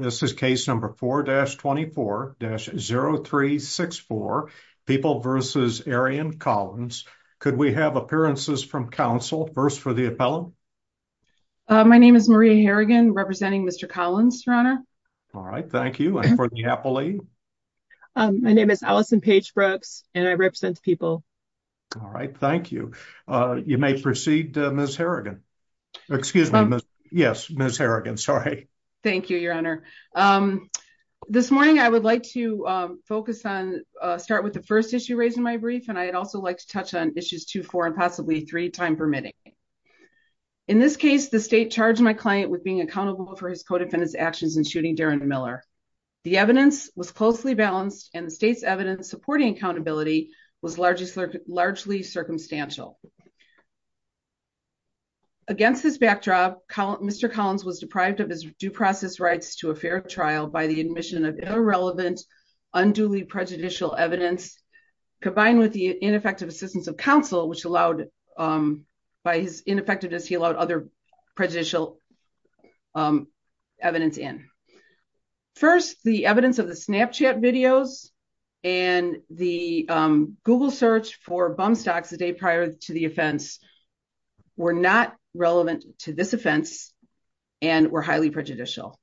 This is case number 4-24-0364, People v. Arian Collins. Could we have appearances from counsel, first for the appellant? My name is Maria Harrigan, representing Mr. Collins, Your Honor. All right. Thank you. And for the appellee? My name is Allison Page Brooks, and I represent the People. All right. Thank you. You may proceed, Ms. Harrigan. Excuse me, yes, Ms. Harrigan, sorry. Thank you, Your Honor. This morning, I would like to start with the first issue raised in my brief, and I'd also like to touch on issues 2, 4, and possibly 3, time permitting. In this case, the state charged my client with being accountable for his co-defendant's actions in shooting Darren Miller. The evidence was closely balanced, and the state's evidence supporting accountability was largely circumstantial. Against this backdrop, Mr. Collins was deprived of his due process rights to a fair trial by the admission of irrelevant, unduly prejudicial evidence, combined with the ineffective assistance of counsel, which allowed, by his ineffectiveness, he allowed other prejudicial evidence in. First, the evidence of the Snapchat videos and the Google search for bum stocks a day of the offense were not relevant to this offense and were highly prejudicial.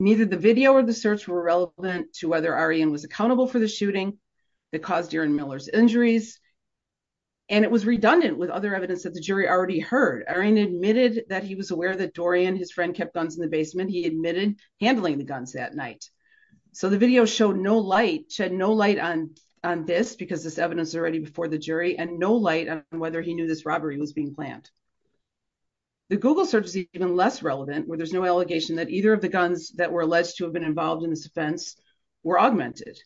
Neither the video or the search were relevant to whether Arian was accountable for the shooting that caused Darren Miller's injuries, and it was redundant with other evidence that the jury already heard. Arian admitted that he was aware that Dorian, his friend, kept guns in the basement. He admitted handling the guns that night. So the video showed no light, shed no light on this, because this evidence is already before the jury, and no light on whether he knew this robbery was being planned. The Google search is even less relevant, where there's no allegation that either of the guns that were alleged to have been involved in this offense were augmented.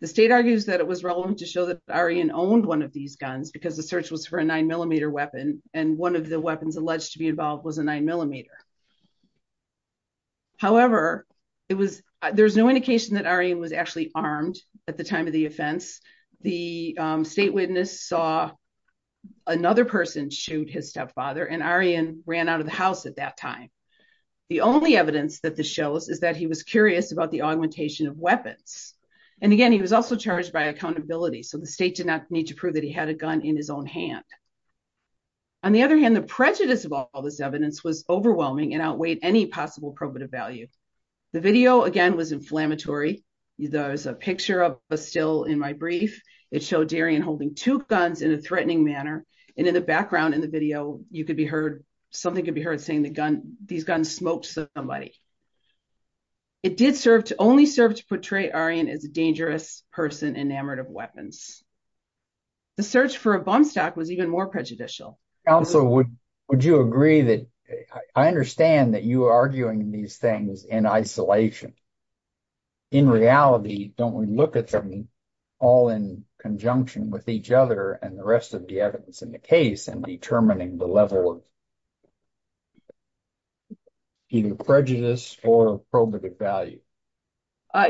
The state argues that it was relevant to show that Arian owned one of these guns, because the search was for a 9mm weapon, and one of the weapons alleged to be involved was a 9mm. However, there's no indication that Arian was actually armed at the time of the offense. The state witness saw another person shoot his stepfather, and Arian ran out of the house at that time. The only evidence that this shows is that he was curious about the augmentation of weapons. And again, he was also charged by accountability, so the state did not need to prove that he had a gun in his own hand. On the other hand, the prejudice of all this evidence was overwhelming and outweighed any possible probative value. The video, again, was inflammatory. There's a picture of Bastille in my brief. It showed Arian holding two guns in a threatening manner, and in the background in the video, you could be heard, something could be heard saying that these guns smoked somebody. It did only serve to portray Arian as a dangerous person enamored of weapons. The search for a bomb stock was even more prejudicial. Counsel, would you agree that I understand that you are arguing these things in isolation. In reality, don't we look at them all in conjunction with each other and the rest of the evidence in the case in determining the level of either prejudice or probative value?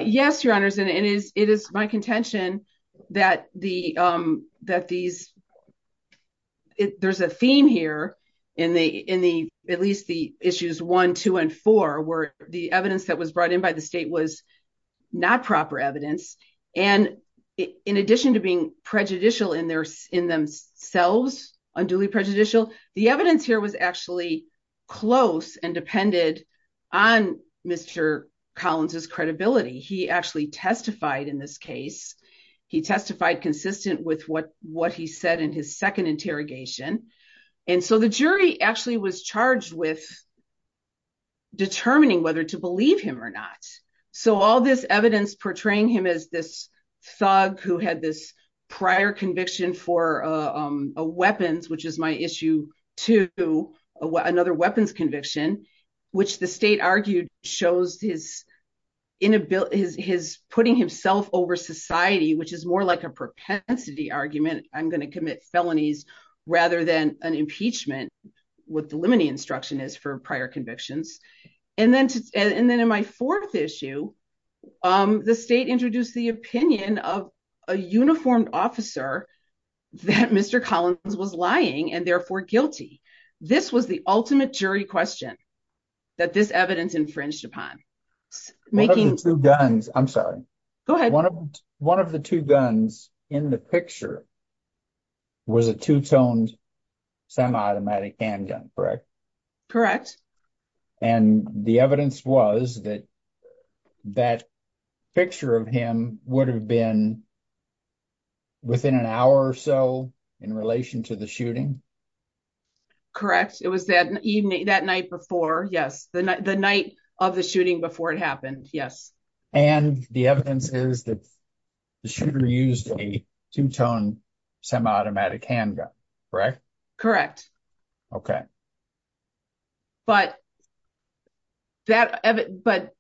Yes, your honors, and it is my contention that there's a theme here in at least the issues one, two, and four, where the evidence that was brought in by the state was not proper evidence and in addition to being prejudicial in themselves, unduly prejudicial, the evidence here was actually close and depended on Mr. Collins's credibility. He actually testified in this case. He testified consistent with what he said in his second interrogation, and so the jury actually was charged with determining whether to believe him or not. So all this evidence portraying him as this thug who had this prior conviction for weapons, which is my issue two, another weapons conviction, which the state argued shows his putting himself over society, which is more like a propensity argument. I'm going to commit felonies rather than an impeachment, what the limiting instruction is for prior convictions. And then in my fourth issue, the state introduced the opinion of a uniformed officer that Mr. Collins was lying and therefore guilty. This was the ultimate jury question that this evidence infringed upon. One of the two guns, I'm sorry. One of the two guns in the picture was a two-toned semi-automatic handgun, correct? Correct. And the evidence was that that picture of him would have been within an hour or so in relation to the shooting? It was that evening, that night before, yes, the night of the shooting before it happened, yes. And the evidence is that the shooter used a two-toned semi-automatic handgun, correct? Correct. Okay. But that, but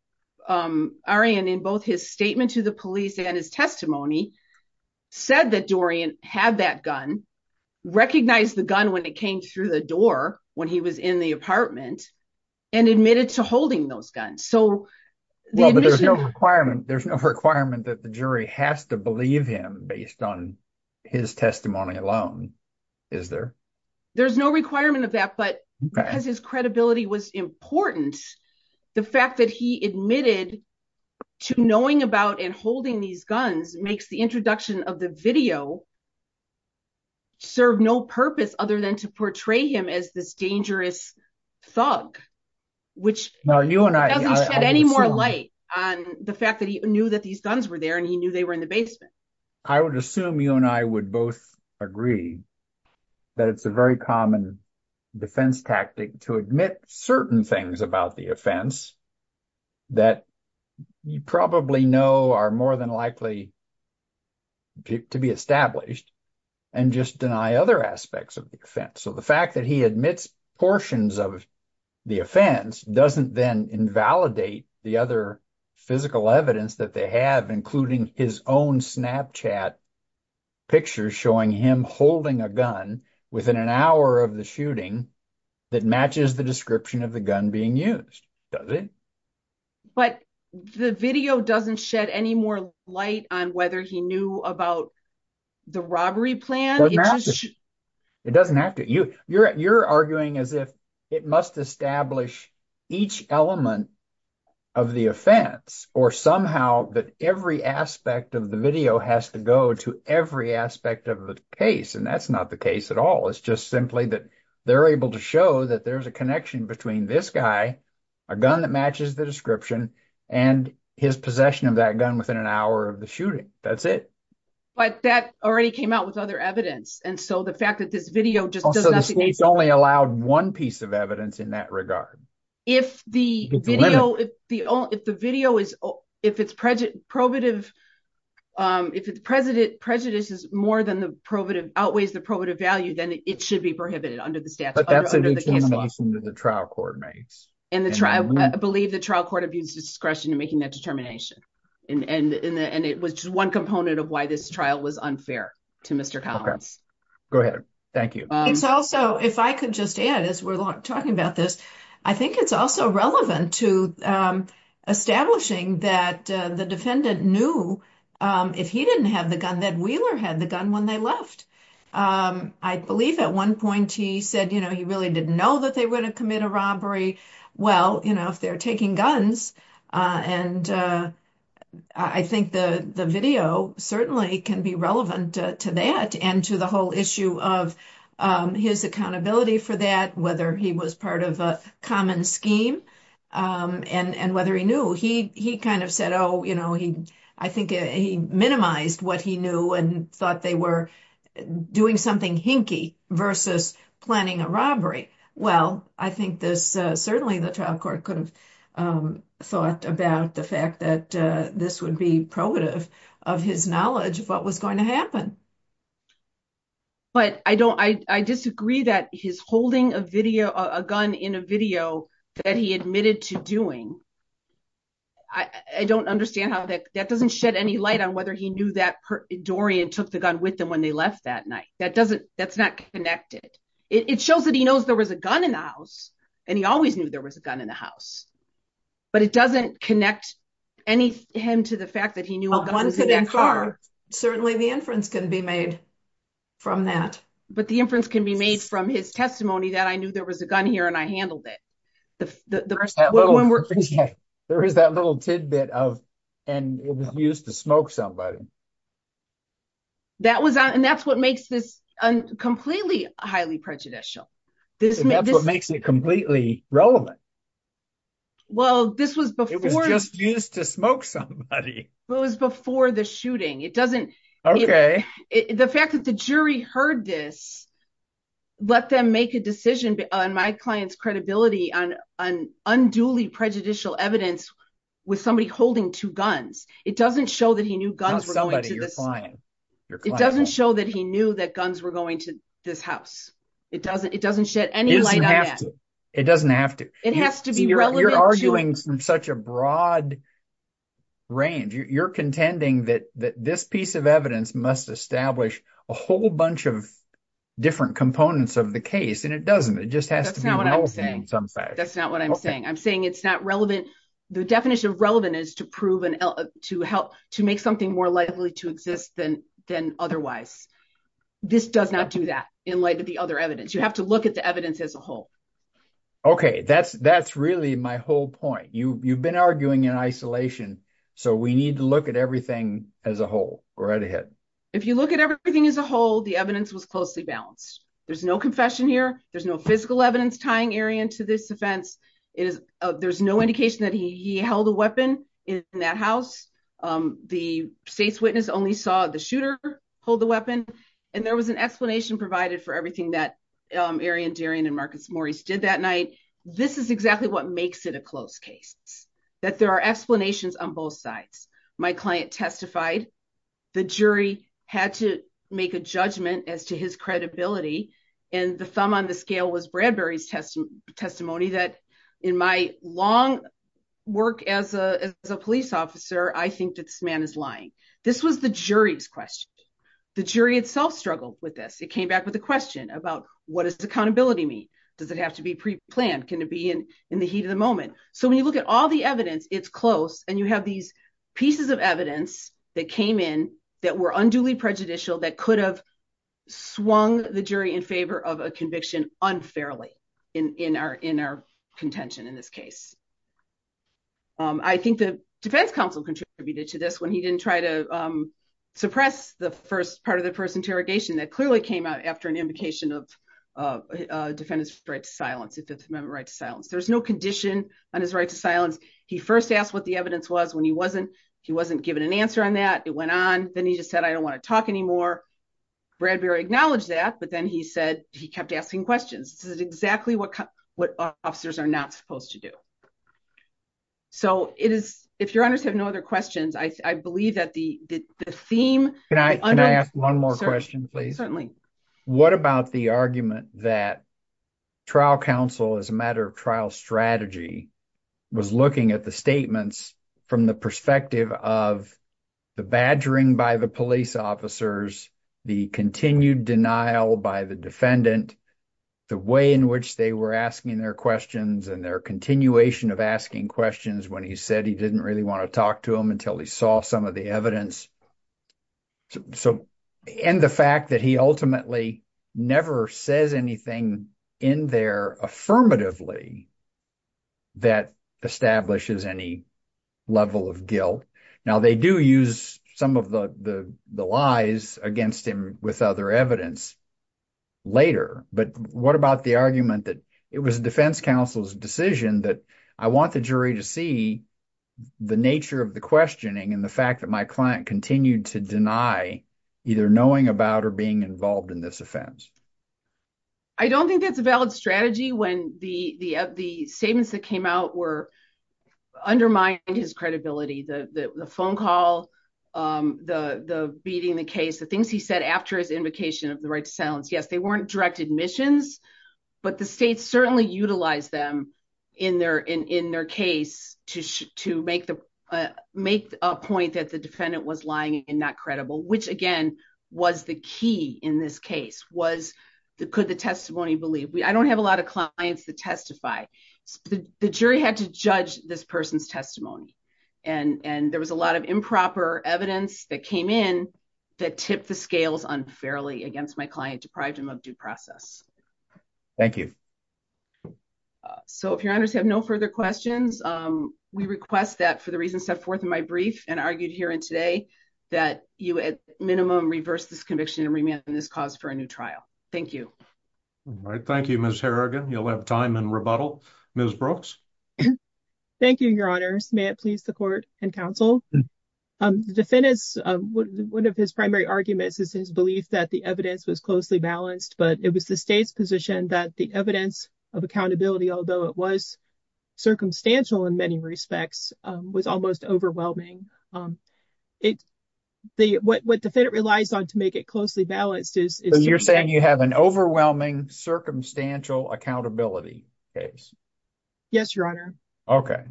Arian, in both his statement to the police and his testimony, said that Dorian had that gun, recognized the gun when it came through the door when he was in the apartment, and admitted to holding those guns. So the admission- Well, but there's no requirement, there's no requirement that the jury has to believe him based on his testimony alone, is there? There's no requirement of that, but because his credibility was important, the fact that he admitted to knowing about and holding these guns makes the introduction of the video serve no purpose other than to portray him as this dangerous thug, which doesn't shed any more light on the fact that he knew that these guns were there and he knew they were in the I would assume you and I would both agree that it's a very common defense tactic to admit certain things about the offense that you probably know are more than likely to be established and just deny other aspects of the offense. So the fact that he admits portions of the offense doesn't then invalidate the other physical evidence that they have, including his own Snapchat pictures showing him holding a gun within an hour of the shooting that matches the description of the gun being used, does it? But the video doesn't shed any more light on whether he knew about the robbery plan. It doesn't have to. You're arguing as if it must establish each element of the offense or somehow that every aspect of the video has to go to every aspect of the case. And that's not the case at all. It's just simply that they're able to show that there's a connection between this guy, a gun that matches the description and his possession of that gun within an hour of the shooting. That's it. But that already came out with other evidence. And so the fact that this video just doesn't allow one piece of evidence in that regard, if the video, if the video is, if it's prejudice, probative, um, if it's president prejudices more than the probative outweighs the probative value, then it should be prohibited under the statute. The trial court makes and the trial, I believe the trial court abuse discretion to making that determination. And, and, and it was just one component of why this trial was unfair to Mr. Collins. Go ahead. Thank you. It's also, if I could just add, as we're talking about this, I think it's also relevant to establishing that the defendant knew if he didn't have the gun that Wheeler had the gun when they left. I believe at one point he said, you know, he really didn't know that they were going to commit a robbery. Well, you know, if they're taking guns and I think the, the video certainly can be relevant to that and to the whole issue of, um, his accountability for that, whether he was part of a common scheme, um, and, and whether he knew he, he kind of said, oh, you know, he, I think he minimized what he knew and thought they were doing something hinky versus planning a robbery. Well, I think this, uh, certainly the trial court could have, um, thought about the fact that, uh, this would be probative of his knowledge of what was going to happen. But I don't, I disagree that he's holding a video, a gun in a video that he admitted to doing. I don't understand how that, that doesn't shed any light on whether he knew that Dorian took the gun with them when they left that night. That doesn't, that's not connected. It shows that he knows there was a gun in the house and he always knew there was a gun in the house. But it doesn't connect any, him to the fact that he knew a gun was in that car. Certainly the inference can be made from that. But the inference can be made from his testimony that I knew there was a gun here and I handled it. There is that little tidbit of, and it was used to smoke somebody. That was, and that's what makes this completely highly prejudicial. And that's what makes it completely relevant. It was just used to smoke somebody. Well, it was before the shooting. It doesn't, the fact that the jury heard this, let them make a decision on my client's credibility on an unduly prejudicial evidence with somebody holding two guns. It doesn't show that he knew guns were going to this house. It doesn't show that he knew that guns were going to this house. It doesn't, it doesn't shed any light on that. It doesn't have to. It has to be relevant. You're arguing from such a broad range. You're contending that this piece of evidence must establish a whole bunch of different components of the case and it doesn't, it just has to be relevant in some fashion. That's not what I'm saying. I'm saying it's not relevant. The definition of relevant is to prove and to help, to make something more likely to exist than otherwise. This does not do that in light of the other evidence. You have to look at the evidence as a whole. Okay. That's, that's really my whole point. You've been arguing in isolation, so we need to look at everything as a whole. Go right ahead. If you look at everything as a whole, the evidence was closely balanced. There's no confession here. There's no physical evidence tying Arion to this offense. There's no indication that he held a weapon in that house. The state's witness only saw the shooter hold the weapon, and there was an explanation provided for everything that Arion, Darian, and Marcus Morris did that night. This is exactly what makes it a closed case, that there are explanations on both sides. My client testified. The jury had to make a judgment as to his credibility, and the thumb on the scale was Bradbury's testimony that, in my long work as a police officer, I think that this man is lying. This was the jury's question. The jury itself struggled with this. It came back with a question about, what does accountability mean? Does it have to be pre-planned? Can it be in the heat of the moment? So when you look at all the evidence, it's close, and you have these pieces of evidence that came in that were unduly prejudicial, that could have swung the jury in favor of a conviction unfairly in our contention in this case. I think the defense counsel contributed to this when he didn't try to suppress the first part of the first interrogation that clearly came out after an invocation of defendants' right to silence, the Fifth Amendment right to silence. There's no condition on his right to silence. He first asked what the evidence was when he wasn't given an answer on that. It went on. Then he just said, I don't want to talk anymore. Bradbury acknowledged that, but then he said he kept asking questions. This is exactly what officers are not supposed to do. So if your honors have no other questions, I believe that the theme- Can I ask one more question, please? What about the argument that trial counsel, as a matter of trial strategy, was looking at the statements from the perspective of the badgering by the police officers, the continued denial by the defendant, the way in which they were asking their questions and their continuation of asking questions when he said he didn't really want to talk to him until he saw some of the evidence, and the fact that he ultimately never says anything in there affirmatively that establishes any level of guilt? Now, they do use some of the lies against him with other evidence later. But what about the argument that it was defense counsel's decision that I want the jury to see the nature of the questioning and the fact that my client continued to deny either knowing about or being involved in this offense? I don't think that's a valid strategy when the statements that came out were undermining his credibility, the phone call, the beating the case, the things he said after his invocation of the right to silence. Yes, they weren't direct admissions, but the states certainly utilize them in their case to make a point that the defendant was lying and not credible, which again, was the key in this case was the could the testimony believe we I don't have a lot of clients that testify. The jury had to judge this person's testimony. And there was a lot of improper evidence that came in that tip the scales unfairly against my client deprived him of due process. Thank you. So if your honors have no further questions, we request that for the reason set forth in my brief and argued here and today that you at minimum reverse this conviction and remand this cause for a new trial. Thank you. All right. Thank you, Miss Harrigan. You'll have time and rebuttal. Ms. Brooks. Thank you, your honors. May it please the court and counsel defendants. One of his primary arguments is his belief that the evidence was closely balanced, but it was the state's position that the evidence of accountability, although it was circumstantial in many respects, was almost overwhelming. It the what the defendant relies on to make it closely balanced is you're saying you have an overwhelming circumstantial accountability case. Yes, your honor. Okay.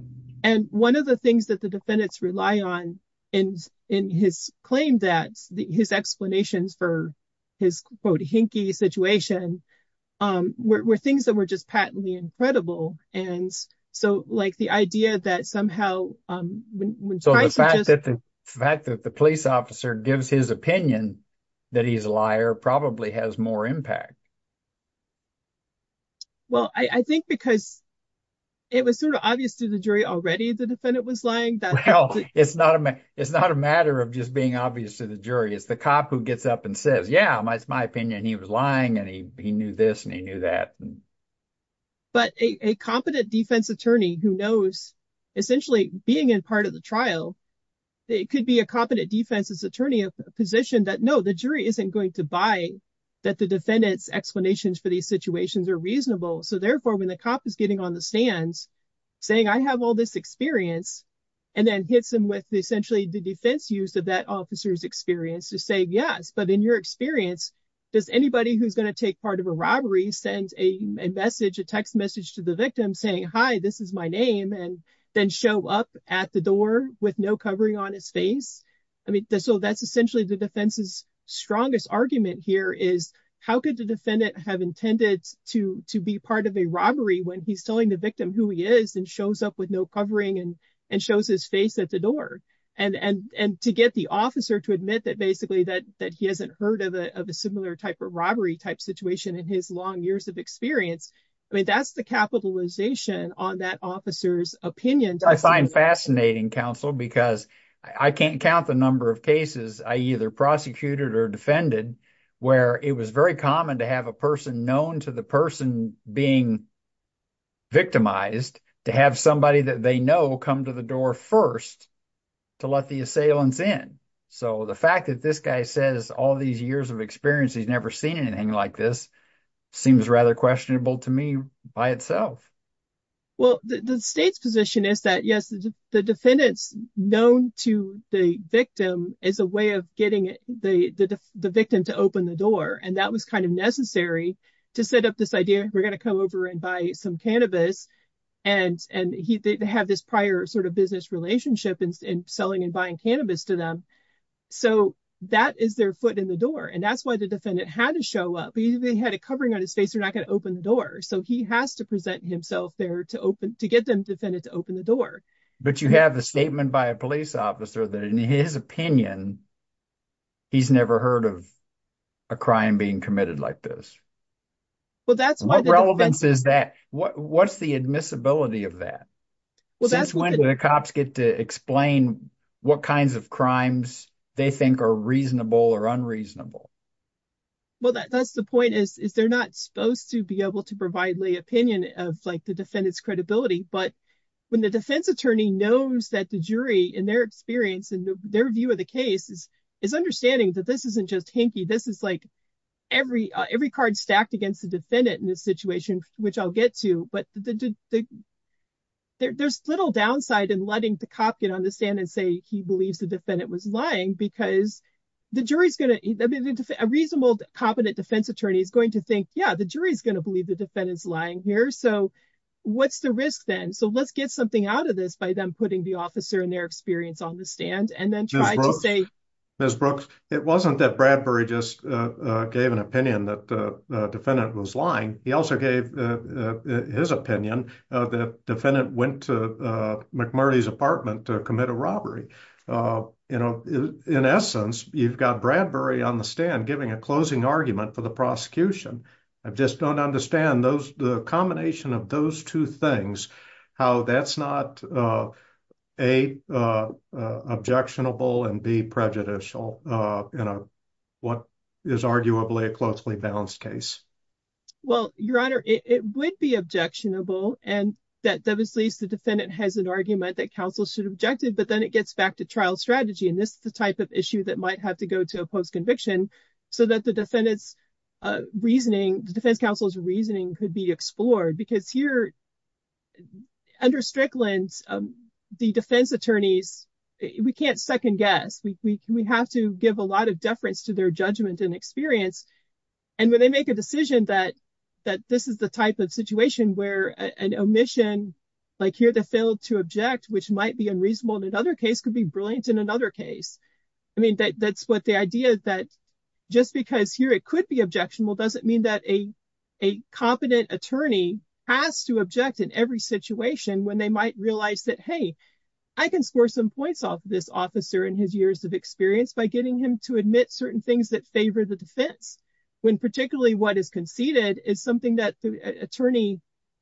And one of the things that the defendants rely on in in his claim that his explanations for his, quote, hinky situation were things that were just patently incredible. And so, like the idea that somehow when so the fact that the fact that the police officer gives his opinion that he's a liar probably has more impact. Well, I think because it was sort of obvious to the jury already, the defendant was lying. It's not a it's not a matter of just being obvious to the jury. It's the cop who gets up and says, yeah, it's my opinion. He was lying and he he knew this and he knew that. But a competent defense attorney who knows essentially being in part of the trial, it could be a competent defense attorney of a position that no, the jury isn't going to buy that the defendant's explanations for these situations are reasonable. So therefore, when the cop is getting on the stands saying, I have all this experience and then hits him with essentially the defense use of that officer's experience to say, yes. But in your experience, does anybody who's going to take part of a robbery send a message, a text message to the victim saying, hi, this is my name, and then show up at the door with no covering on his face? I mean, so that's essentially the defense's strongest argument here is how could the defendant have intended to to be part of a robbery when he's telling the victim who he is and shows up with no covering and and shows his face at the door and and to get the officer to admit that basically that that he hasn't heard of a similar type of robbery type situation in his long years of experience? I mean, that's the capitalization on that officer's opinion. I find fascinating, counsel, because I can't count the number of cases I either prosecuted or defended where it was very common to have a person known to the person being victimized, to have somebody that they know come to the door first to let the assailants in. So the fact that this guy says all these years of experience, he's never seen anything like this seems rather questionable to me by itself. Well, the state's position is that, yes, the defendant's known to the victim as a way of getting the victim to open the door. And that was kind of necessary to set up this idea. We're going to come over and buy some cannabis. And and they have this prior sort of business relationship in selling and buying cannabis to them. So that is their foot in the door. And that's why the defendant had to show up. He had a covering on his face. They're not going to open the door. So he has to present himself there to open to get them defended, to open the door. But you have a statement by a police officer that in his opinion. He's never heard of a crime being committed like this. Well, that's what relevance is that? What's the admissibility of that? Since when do the cops get to explain what kinds of crimes they think are reasonable or unreasonable? Well, that's the point is, is they're not supposed to be able to provide the opinion of like the defendant's credibility. But when the defense attorney knows that the jury in their experience and their view of the case is is understanding that this isn't just hinky. This is like every every card stacked against the defendant in this situation, which I'll get to. But there's little downside in letting the cop get on the stand and say he believes the defendant was lying because the jury is going to be a reasonable, competent defense attorney is going to think, yeah, the jury is going to believe the defendant is lying here. So what's the risk? Then so let's get something out of this by them putting the officer and their experience on the stand and then try to say, Ms. Brooks, it wasn't that Bradbury just gave an opinion that the defendant was lying. He also gave his opinion that the defendant went to McMurray's apartment to commit a robbery. You know, in essence, you've got Bradbury on the stand giving a closing argument for the prosecution. I just don't understand those the combination of those two things, how that's not a objectionable and be prejudicial in what is arguably a closely balanced case. Well, your honor, it would be objectionable and that that was at least the defendant has an argument that counsel should objected. But then it gets back to trial strategy. And this is the type of issue that might have to go to a post conviction so that the defendants reasoning, the defense counsel's reasoning could be explored. Because here under Strickland's, the defense attorneys, we can't second guess. We have to give a lot of deference to their judgment and experience. And when they make a decision that that this is the type of situation where an omission like here to fail to object, which might be unreasonable in another case, could be brilliant in another case. I mean, that's what the idea that just because here it could be objectionable doesn't mean that a a competent attorney has to object in every situation when they might realize that, hey, I can score some points off this officer in his years of experience by getting him to admit certain things that favor the defense, when particularly what is conceded is something that the attorney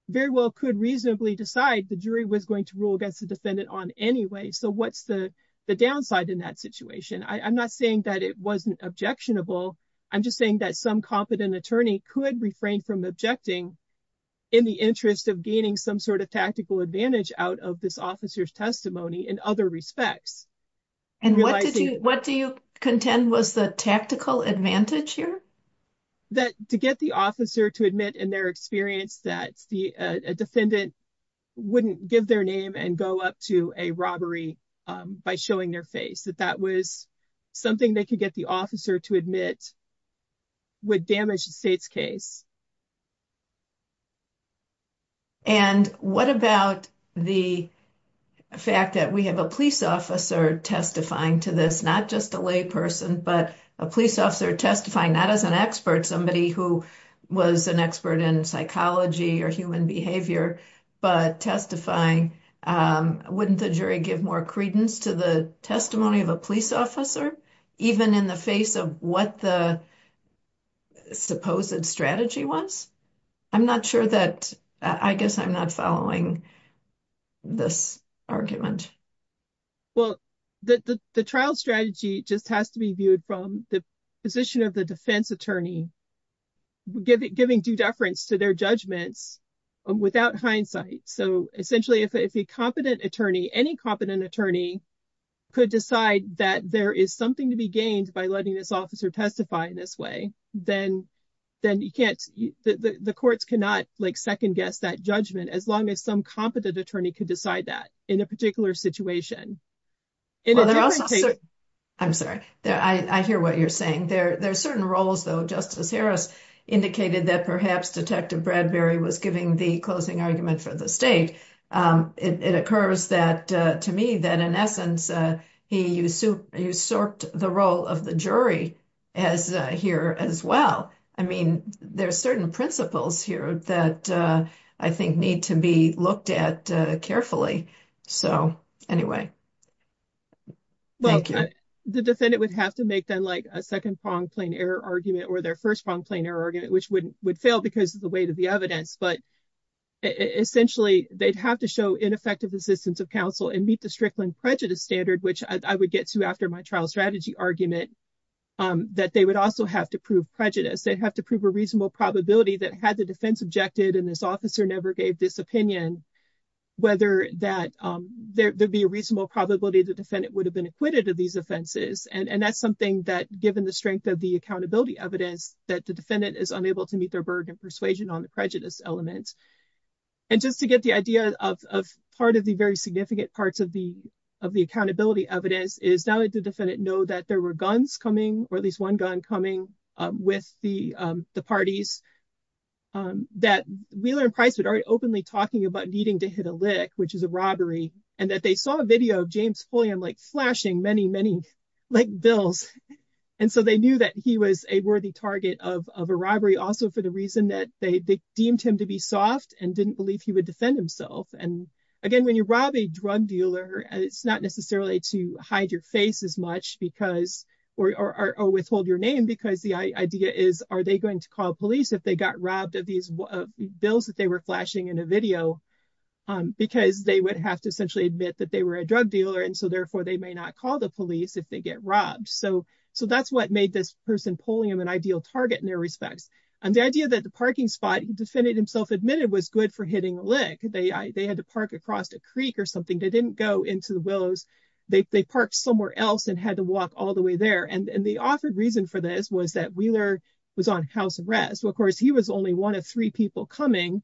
very well could reasonably decide the jury was going to rule against the defendant on anyway. So what's the downside in that situation? I'm not saying that it wasn't objectionable. I'm just saying that some competent attorney could refrain from objecting in the interest of gaining some sort of tactical advantage out of this officer's testimony in other respects. And what do you contend was the tactical advantage here? That to get the officer to admit in their experience that the defendant wouldn't give their name and go up to a robbery by showing their face, that that was something they could get the officer to admit would damage the state's case. And what about the fact that we have a police officer testifying to this, not just a lay person, but a police officer testifying, not as an expert, somebody who was an expert in psychology or human behavior, but testifying, wouldn't the jury give more credence to the testimony of a police officer, even in the face of what the supposed strategy was? I'm not sure that I guess I'm not following this argument. Well, the trial strategy just has to be viewed from the position of the defense attorney, giving due deference to their judgments without hindsight. So essentially, if a competent attorney, any competent attorney could decide that there is something to be gained by letting this officer testify in this way, then you can't, the courts cannot second guess that judgment as long as some competent attorney could decide that in a particular situation. I'm sorry, I hear what you're saying. There are certain roles, though, Justice Harris indicated that perhaps Detective Bradbury was giving the closing argument for the state. It occurs to me that in essence, he usurped the role of the jury here as well. I mean, there are certain principles here that I think need to be looked at carefully. So anyway. Well, the defendant would have to make them like a second pronged plain error argument or their first pronged plain error argument, which would fail because of the weight of the evidence. But essentially, they'd have to show ineffective assistance of counsel and meet the Strickland prejudice standard, which I would get to after my trial strategy argument, that they would also have to prove prejudice. They have to prove a reasonable probability that had the defense objected and this officer never gave this opinion, whether that there'd be a reasonable probability the defendant would have been acquitted of these offenses. And that's something that given the strength of the accountability evidence that the defendant is unable to meet their burden of persuasion on the prejudice element. And just to get the idea of part of the very significant parts of the accountability evidence is now that the defendant know that there were guns coming or at least one gun coming with the parties. That Wheeler and Pricewood are openly talking about needing to hit a lick, which is a robbery and that they saw a video of James Fulham like flashing many, many like bills. And so they knew that he was a worthy target of a robbery. Also, for the reason that they deemed him to be soft and didn't believe he would defend himself. And again, when you rob a drug dealer, it's not necessarily to hide your face as much because or withhold your name, because the idea is, are they going to call police if they got robbed of these bills that they were flashing in a video because they would have to essentially admit that they were a drug dealer. And so, therefore, they may not call the police if they get robbed. So that's what made this person pulling him an ideal target in their respects. And the idea that the parking spot defendant himself admitted was good for hitting a lick. They had to park across a creek or something. They didn't go into the willows. They parked somewhere else and had to walk all the way there. And the offered reason for this was that Wheeler was on house arrest. Well, of course, he was only one of three people coming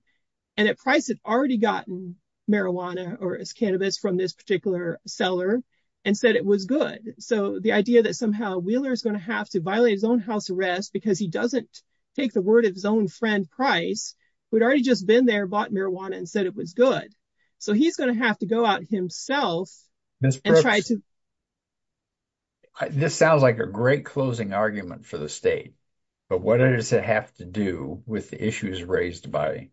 and at price had already gotten marijuana or cannabis from this particular seller and said it was good. So the idea that somehow Wheeler is going to have to violate his own house arrest because he doesn't take the word of his own friend, Price, who had already just been there, bought marijuana and said it was good. So he's going to have to go out himself. This sounds like a great closing argument for the state, but what does it have to do with the issues raised by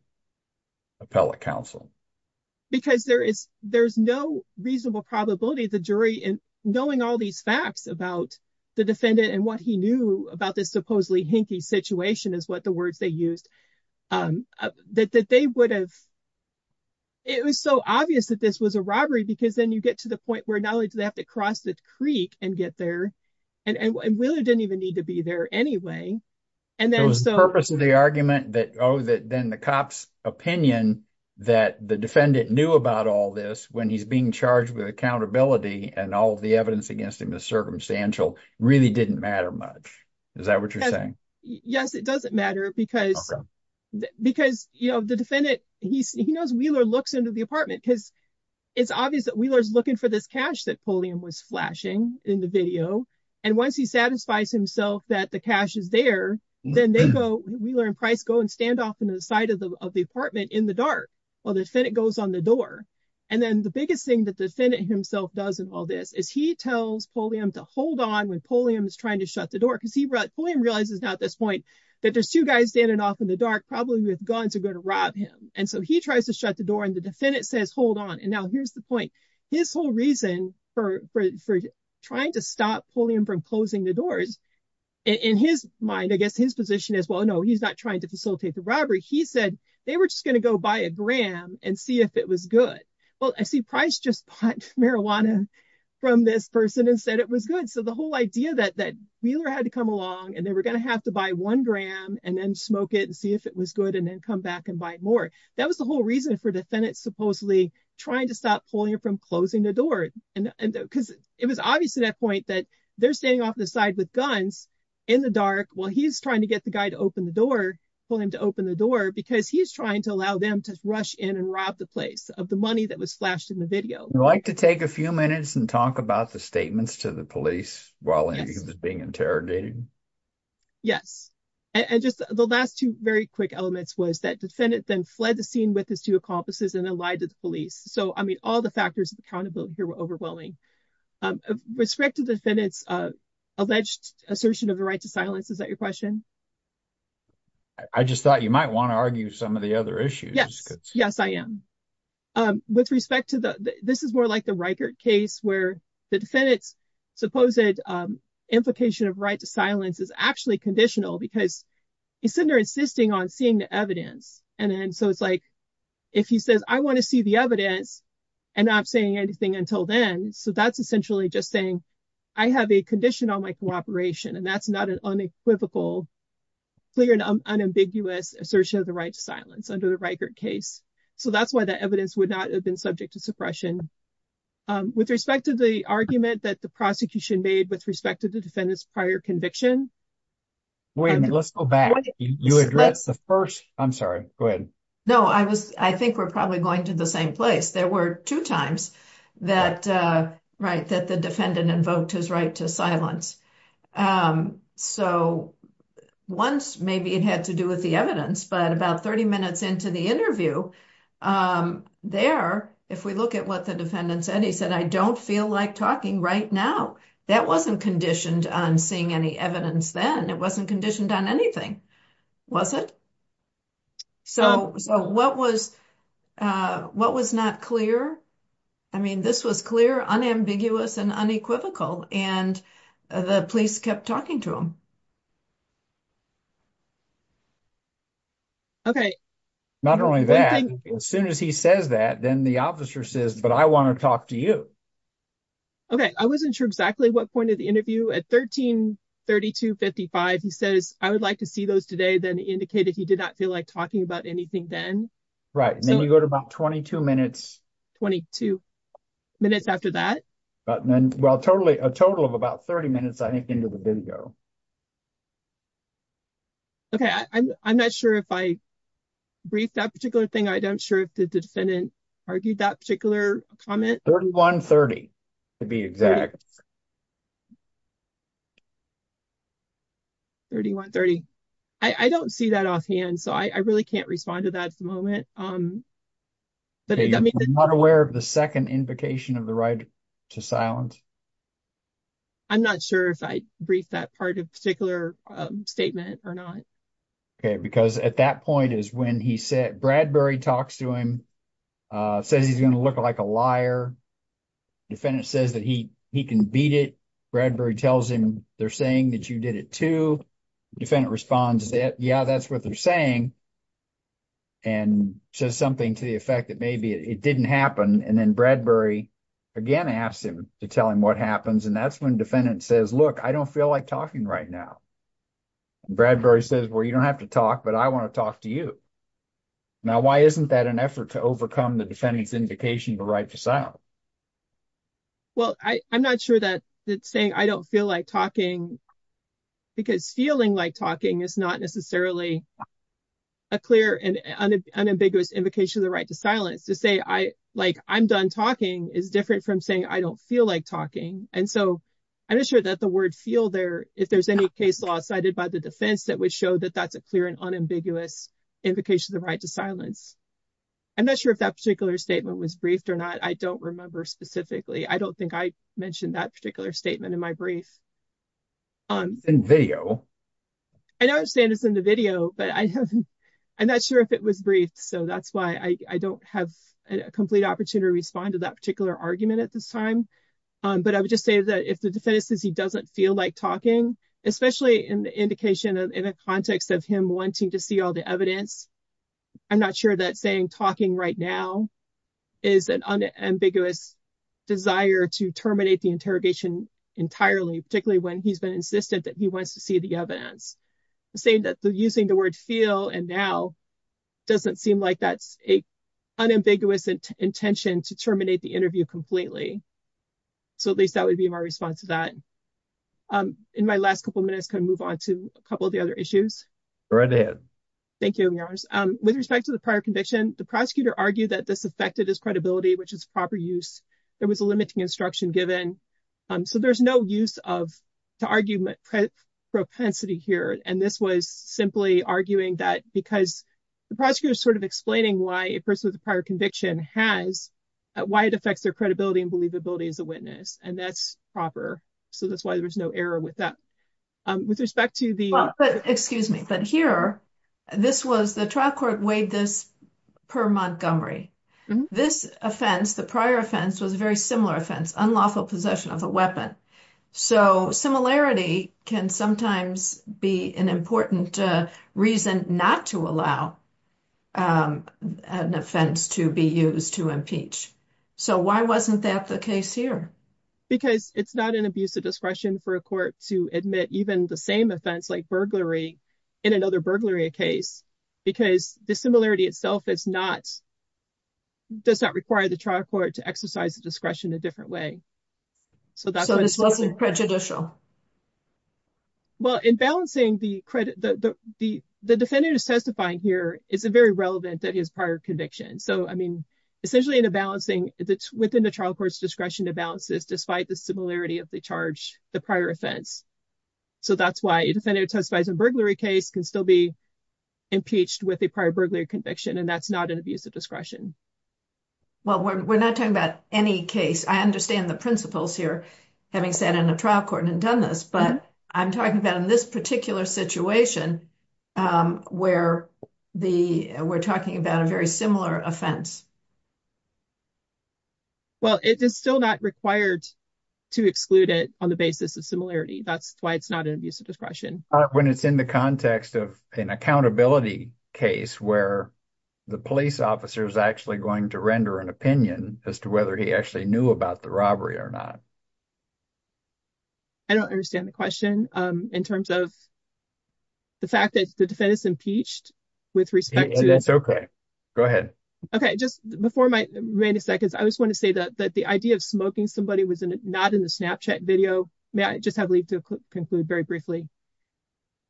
appellate counsel? Because there is no reasonable probability the jury in knowing all these facts about the defendant and what he knew about this supposedly hinky situation is what the words they used that they would have. It was so obvious that this was a robbery because then you get to the point where not only do they have to cross the creek and get there and Wheeler didn't even need to be there anyway. And then the purpose of the argument that then the cop's opinion that the defendant knew about all this when he's being charged with accountability and all of the evidence against him is circumstantial really didn't matter much. Is that what you're saying? Yes, it doesn't matter because the defendant, he knows Wheeler looks into the apartment because it's obvious that Wheeler is looking for this cash that Pulliam was flashing in the video. And once he satisfies himself that the cash is there, then they go, Wheeler and Price go and stand off in the side of the apartment in the dark while the defendant goes on the And then the biggest thing that the defendant himself does in all this is he tells Pulliam to hold on when Pulliam is trying to shut the door because Pulliam realizes now at this point that there's two guys standing off in the dark probably with guns are going to rob him. And so he tries to shut the door and the defendant says, hold on. And now here's the point. His whole reason for trying to stop Pulliam from closing the doors in his mind, I guess his position is, well, no, he's not trying to facilitate the robbery. He said they were just going to go buy a gram and see if it was good. Well, I see Price just bought marijuana from this person and said it was good. So the whole idea that Wheeler had to come along and they were going to have to buy one gram and then smoke it and see if it was good and then come back and buy more. That was the whole reason for the defendant supposedly trying to stop Pulliam from closing the door. And because it was obvious at that point that they're standing off the side with guns in the dark while he's trying to get the guy to open the door, Pulliam to open the door because he's trying to allow them to rush in and rob the place of the money that was flashed in the video. I'd like to take a few minutes and talk about the statements to the police while he was being interrogated. Yes, and just the last two very quick elements was that defendant then fled the scene with his two accomplices and then lied to the police. So, I mean, all the factors of accountability here were overwhelming. Respect to the defendant's alleged assertion of the right to silence. Is that your question? I just thought you might want to argue some of the other issues. Yes, yes, I am with respect to the this is more like the record case where the defendant's supposed implication of right to silence is actually conditional because he's sitting there insisting on seeing the evidence. And then so it's like if he says, I want to see the evidence and I'm saying anything until then. So that's essentially just saying I have a condition on my cooperation and that's not equivocal, clear and unambiguous assertion of the right to silence under the record case. So that's why the evidence would not have been subject to suppression. With respect to the argument that the prosecution made with respect to the defendant's prior conviction. Let's go back. I'm sorry. Go ahead. No, I was I think we're probably going to the same place. There were two times that right that the defendant invoked his right to silence. Um, so once maybe it had to do with the evidence, but about 30 minutes into the interview. Um, there, if we look at what the defendant said, he said, I don't feel like talking right now. That wasn't conditioned on seeing any evidence. Then it wasn't conditioned on anything, was it? So what was what was not clear? I mean, this was clear, unambiguous and unequivocal. And the police kept talking to him. Okay, not only that, as soon as he says that, then the officer says, but I want to talk to you. Okay, I wasn't sure exactly what point of the interview at 1332 55. He says, I would like to see those today, then indicated he did not feel like talking about anything then. Right. And then you go to about 22 minutes, 22 minutes after that. But then, well, totally a total of about 30 minutes, I think, into the video. Okay, I'm not sure if I briefed that particular thing. I don't sure if the defendant argued that particular comment. 3130 to be exact. 3130 I don't see that offhand, so I really can't respond to that at the moment. I'm not aware of the second invocation of the right to silence. I'm not sure if I briefed that part of particular statement or not. Okay, because at that point is when he said Bradbury talks to him, says he's going to look like a liar. Defendant says that he he can beat it. Bradbury tells him they're saying that you did it too. Defendant responds that, yeah, that's what they're saying. And says something to the effect that maybe it didn't happen. And then Bradbury again asked him to tell him what happens. And that's when defendant says, look, I don't feel like talking right now. Bradbury says, well, you don't have to talk, but I want to talk to you. Now, why isn't that an effort to overcome the defendant's indication of the right to silence? Well, I'm not sure that it's saying I don't feel like talking because feeling like talking is not necessarily a clear and unambiguous invocation of the right to silence. To say I like I'm done talking is different from saying I don't feel like talking. And so I'm not sure that the word feel there, if there's any case law cited by the defense that would show that that's a clear and unambiguous invocation of the right to silence. I'm not sure if that particular statement was briefed or not. I don't remember specifically. I don't think I mentioned that particular statement in my brief. On video, I understand it's in the video, but I haven't. I'm not sure if it was briefed. So that's why I don't have a complete opportunity to respond to that particular argument at this time. But I would just say that if the defense says he doesn't feel like talking, especially in the indication of in the context of him wanting to see all the evidence, I'm not sure that saying talking right now is an unambiguous desire to terminate the interrogation entirely particularly when he's been insistent that he wants to see the evidence. Saying that using the word feel and now doesn't seem like that's a unambiguous intention to terminate the interview completely. So at least that would be my response to that. In my last couple of minutes, I'm going to move on to a couple of the other issues. Go right ahead. Thank you, Your Honor. With respect to the prior conviction, the prosecutor argued that this affected his credibility, which is proper use. There was a limiting instruction given. So there's no use of argument propensity here. And this was simply arguing that because the prosecutor is sort of explaining why a person with a prior conviction has, why it affects their credibility and believability as a witness. And that's proper. So that's why there's no error with that. With respect to the- Excuse me. But here, this was the trial court weighed this per Montgomery. This offense, the prior offense was a very similar offense, unlawful possession of a weapon. So similarity can sometimes be an important reason not to allow an offense to be used to impeach. So why wasn't that the case here? Because it's not an abuse of discretion for a court to admit even the same offense like in another burglary case, because the similarity itself is not, does not require the trial court to exercise the discretion a different way. So this wasn't prejudicial. Well, in balancing the credit, the defendant is testifying here is a very relevant that his prior conviction. So, I mean, essentially in a balancing that's within the trial court's discretion to balance this despite the similarity of the charge, the prior offense. So that's why a defendant testifies in a burglary case can still be impeached with a prior burglary conviction. And that's not an abuse of discretion. Well, we're not talking about any case. I understand the principles here, having sat in a trial court and done this, but I'm talking about in this particular situation where the we're talking about a very similar offense. Well, it is still not required to exclude it on the basis of similarity. That's why it's not an abuse of discretion. When it's in the context of an accountability case where the police officer is actually going to render an opinion as to whether he actually knew about the robbery or not. I don't understand the question in terms of the fact that the defendant is impeached with respect to that. It's okay. Go ahead. Okay, just before my remaining seconds, I just want to say that the idea of smoking somebody was not in the Snapchat video. May I just have leave to conclude very briefly?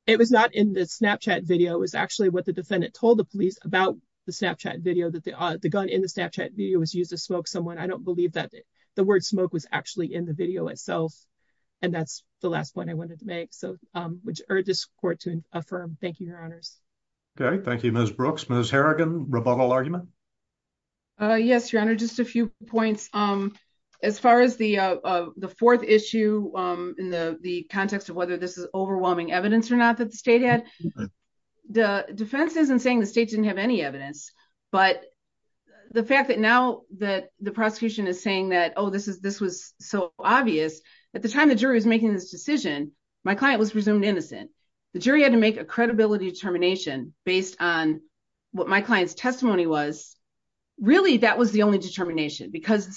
It was not in the Snapchat video. It was actually what the defendant told the police about the Snapchat video that the gun in the Snapchat video was used to smoke someone. I don't believe that the word smoke was actually in the video itself. And that's the last point I wanted to make. So, which urge this court to affirm. Thank you, Your Honors. Okay, thank you, Ms. Brooks. Ms. Harrigan, rebuttal argument? Yes, Your Honor, just a few points. As far as the fourth issue in the context of whether this is overwhelming evidence or not that the state had, the defense isn't saying the state didn't have any evidence. But the fact that now that the prosecution is saying that, oh, this was so obvious. At the time the jury was making this decision, my client was presumed innocent. The jury had to make a credibility determination based on what my client's testimony was. Really, that was the only determination. Because the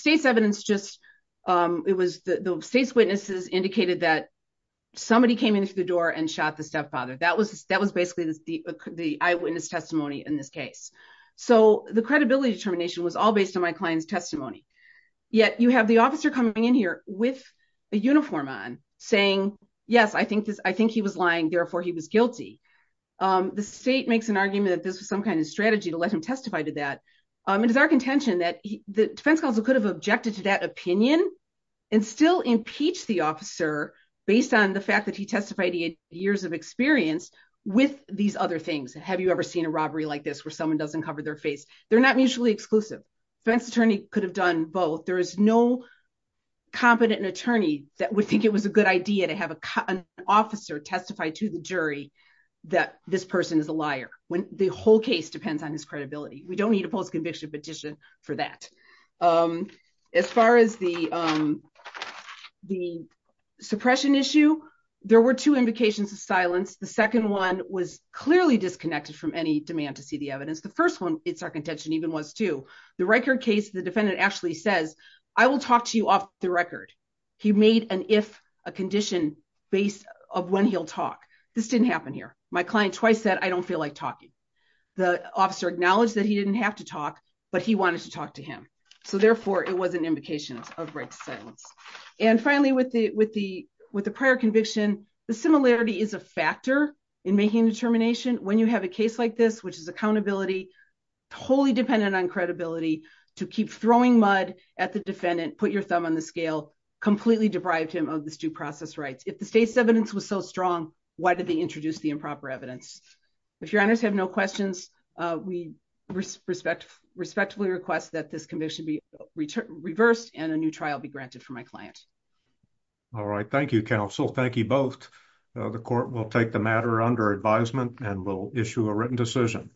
state's witnesses indicated that somebody came in through the door and shot the stepfather. That was basically the eyewitness testimony in this case. So the credibility determination was all based on my client's testimony. Yet you have the officer coming in here with a uniform on saying, yes, I think he was lying, therefore he was guilty. The state makes an argument that this was some kind of strategy to let him testify to that. It is our contention that the defense counsel could have objected to that opinion and still impeach the officer based on the fact that he testified years of experience with these other things. Have you ever seen a robbery like this where someone doesn't cover their face? They're not mutually exclusive. Defense attorney could have done both. There is no competent attorney that would think it was a good idea to have an officer testify to the jury that this person is a liar when the whole case depends on his credibility. We don't need a post-conviction petition for that. As far as the suppression issue, there were two invocations of silence. The second one was clearly disconnected from any demand to see the evidence. The first one, it's our contention, even was too. The record case, the defendant actually says, I will talk to you off the record. He made an if, a condition based of when he'll talk. This didn't happen here. My client twice said, I don't feel like talking. The officer acknowledged that he didn't have to talk, but he wanted to talk to him. So therefore, it was an invocation of right to silence. And finally, with the prior conviction, the similarity is a factor in making a determination when you have a case like this, which is accountability, wholly dependent on credibility to keep throwing mud at the defendant, put your thumb on the scale, completely deprived him of this due process rights. If the state's evidence was so strong, why did they introduce the improper evidence? If your honors have no questions, we respectfully request that this commission be reversed and a new trial be granted for my client. All right. Thank you, counsel. Thank you both. The court will take the matter under advisement and will issue a written decision.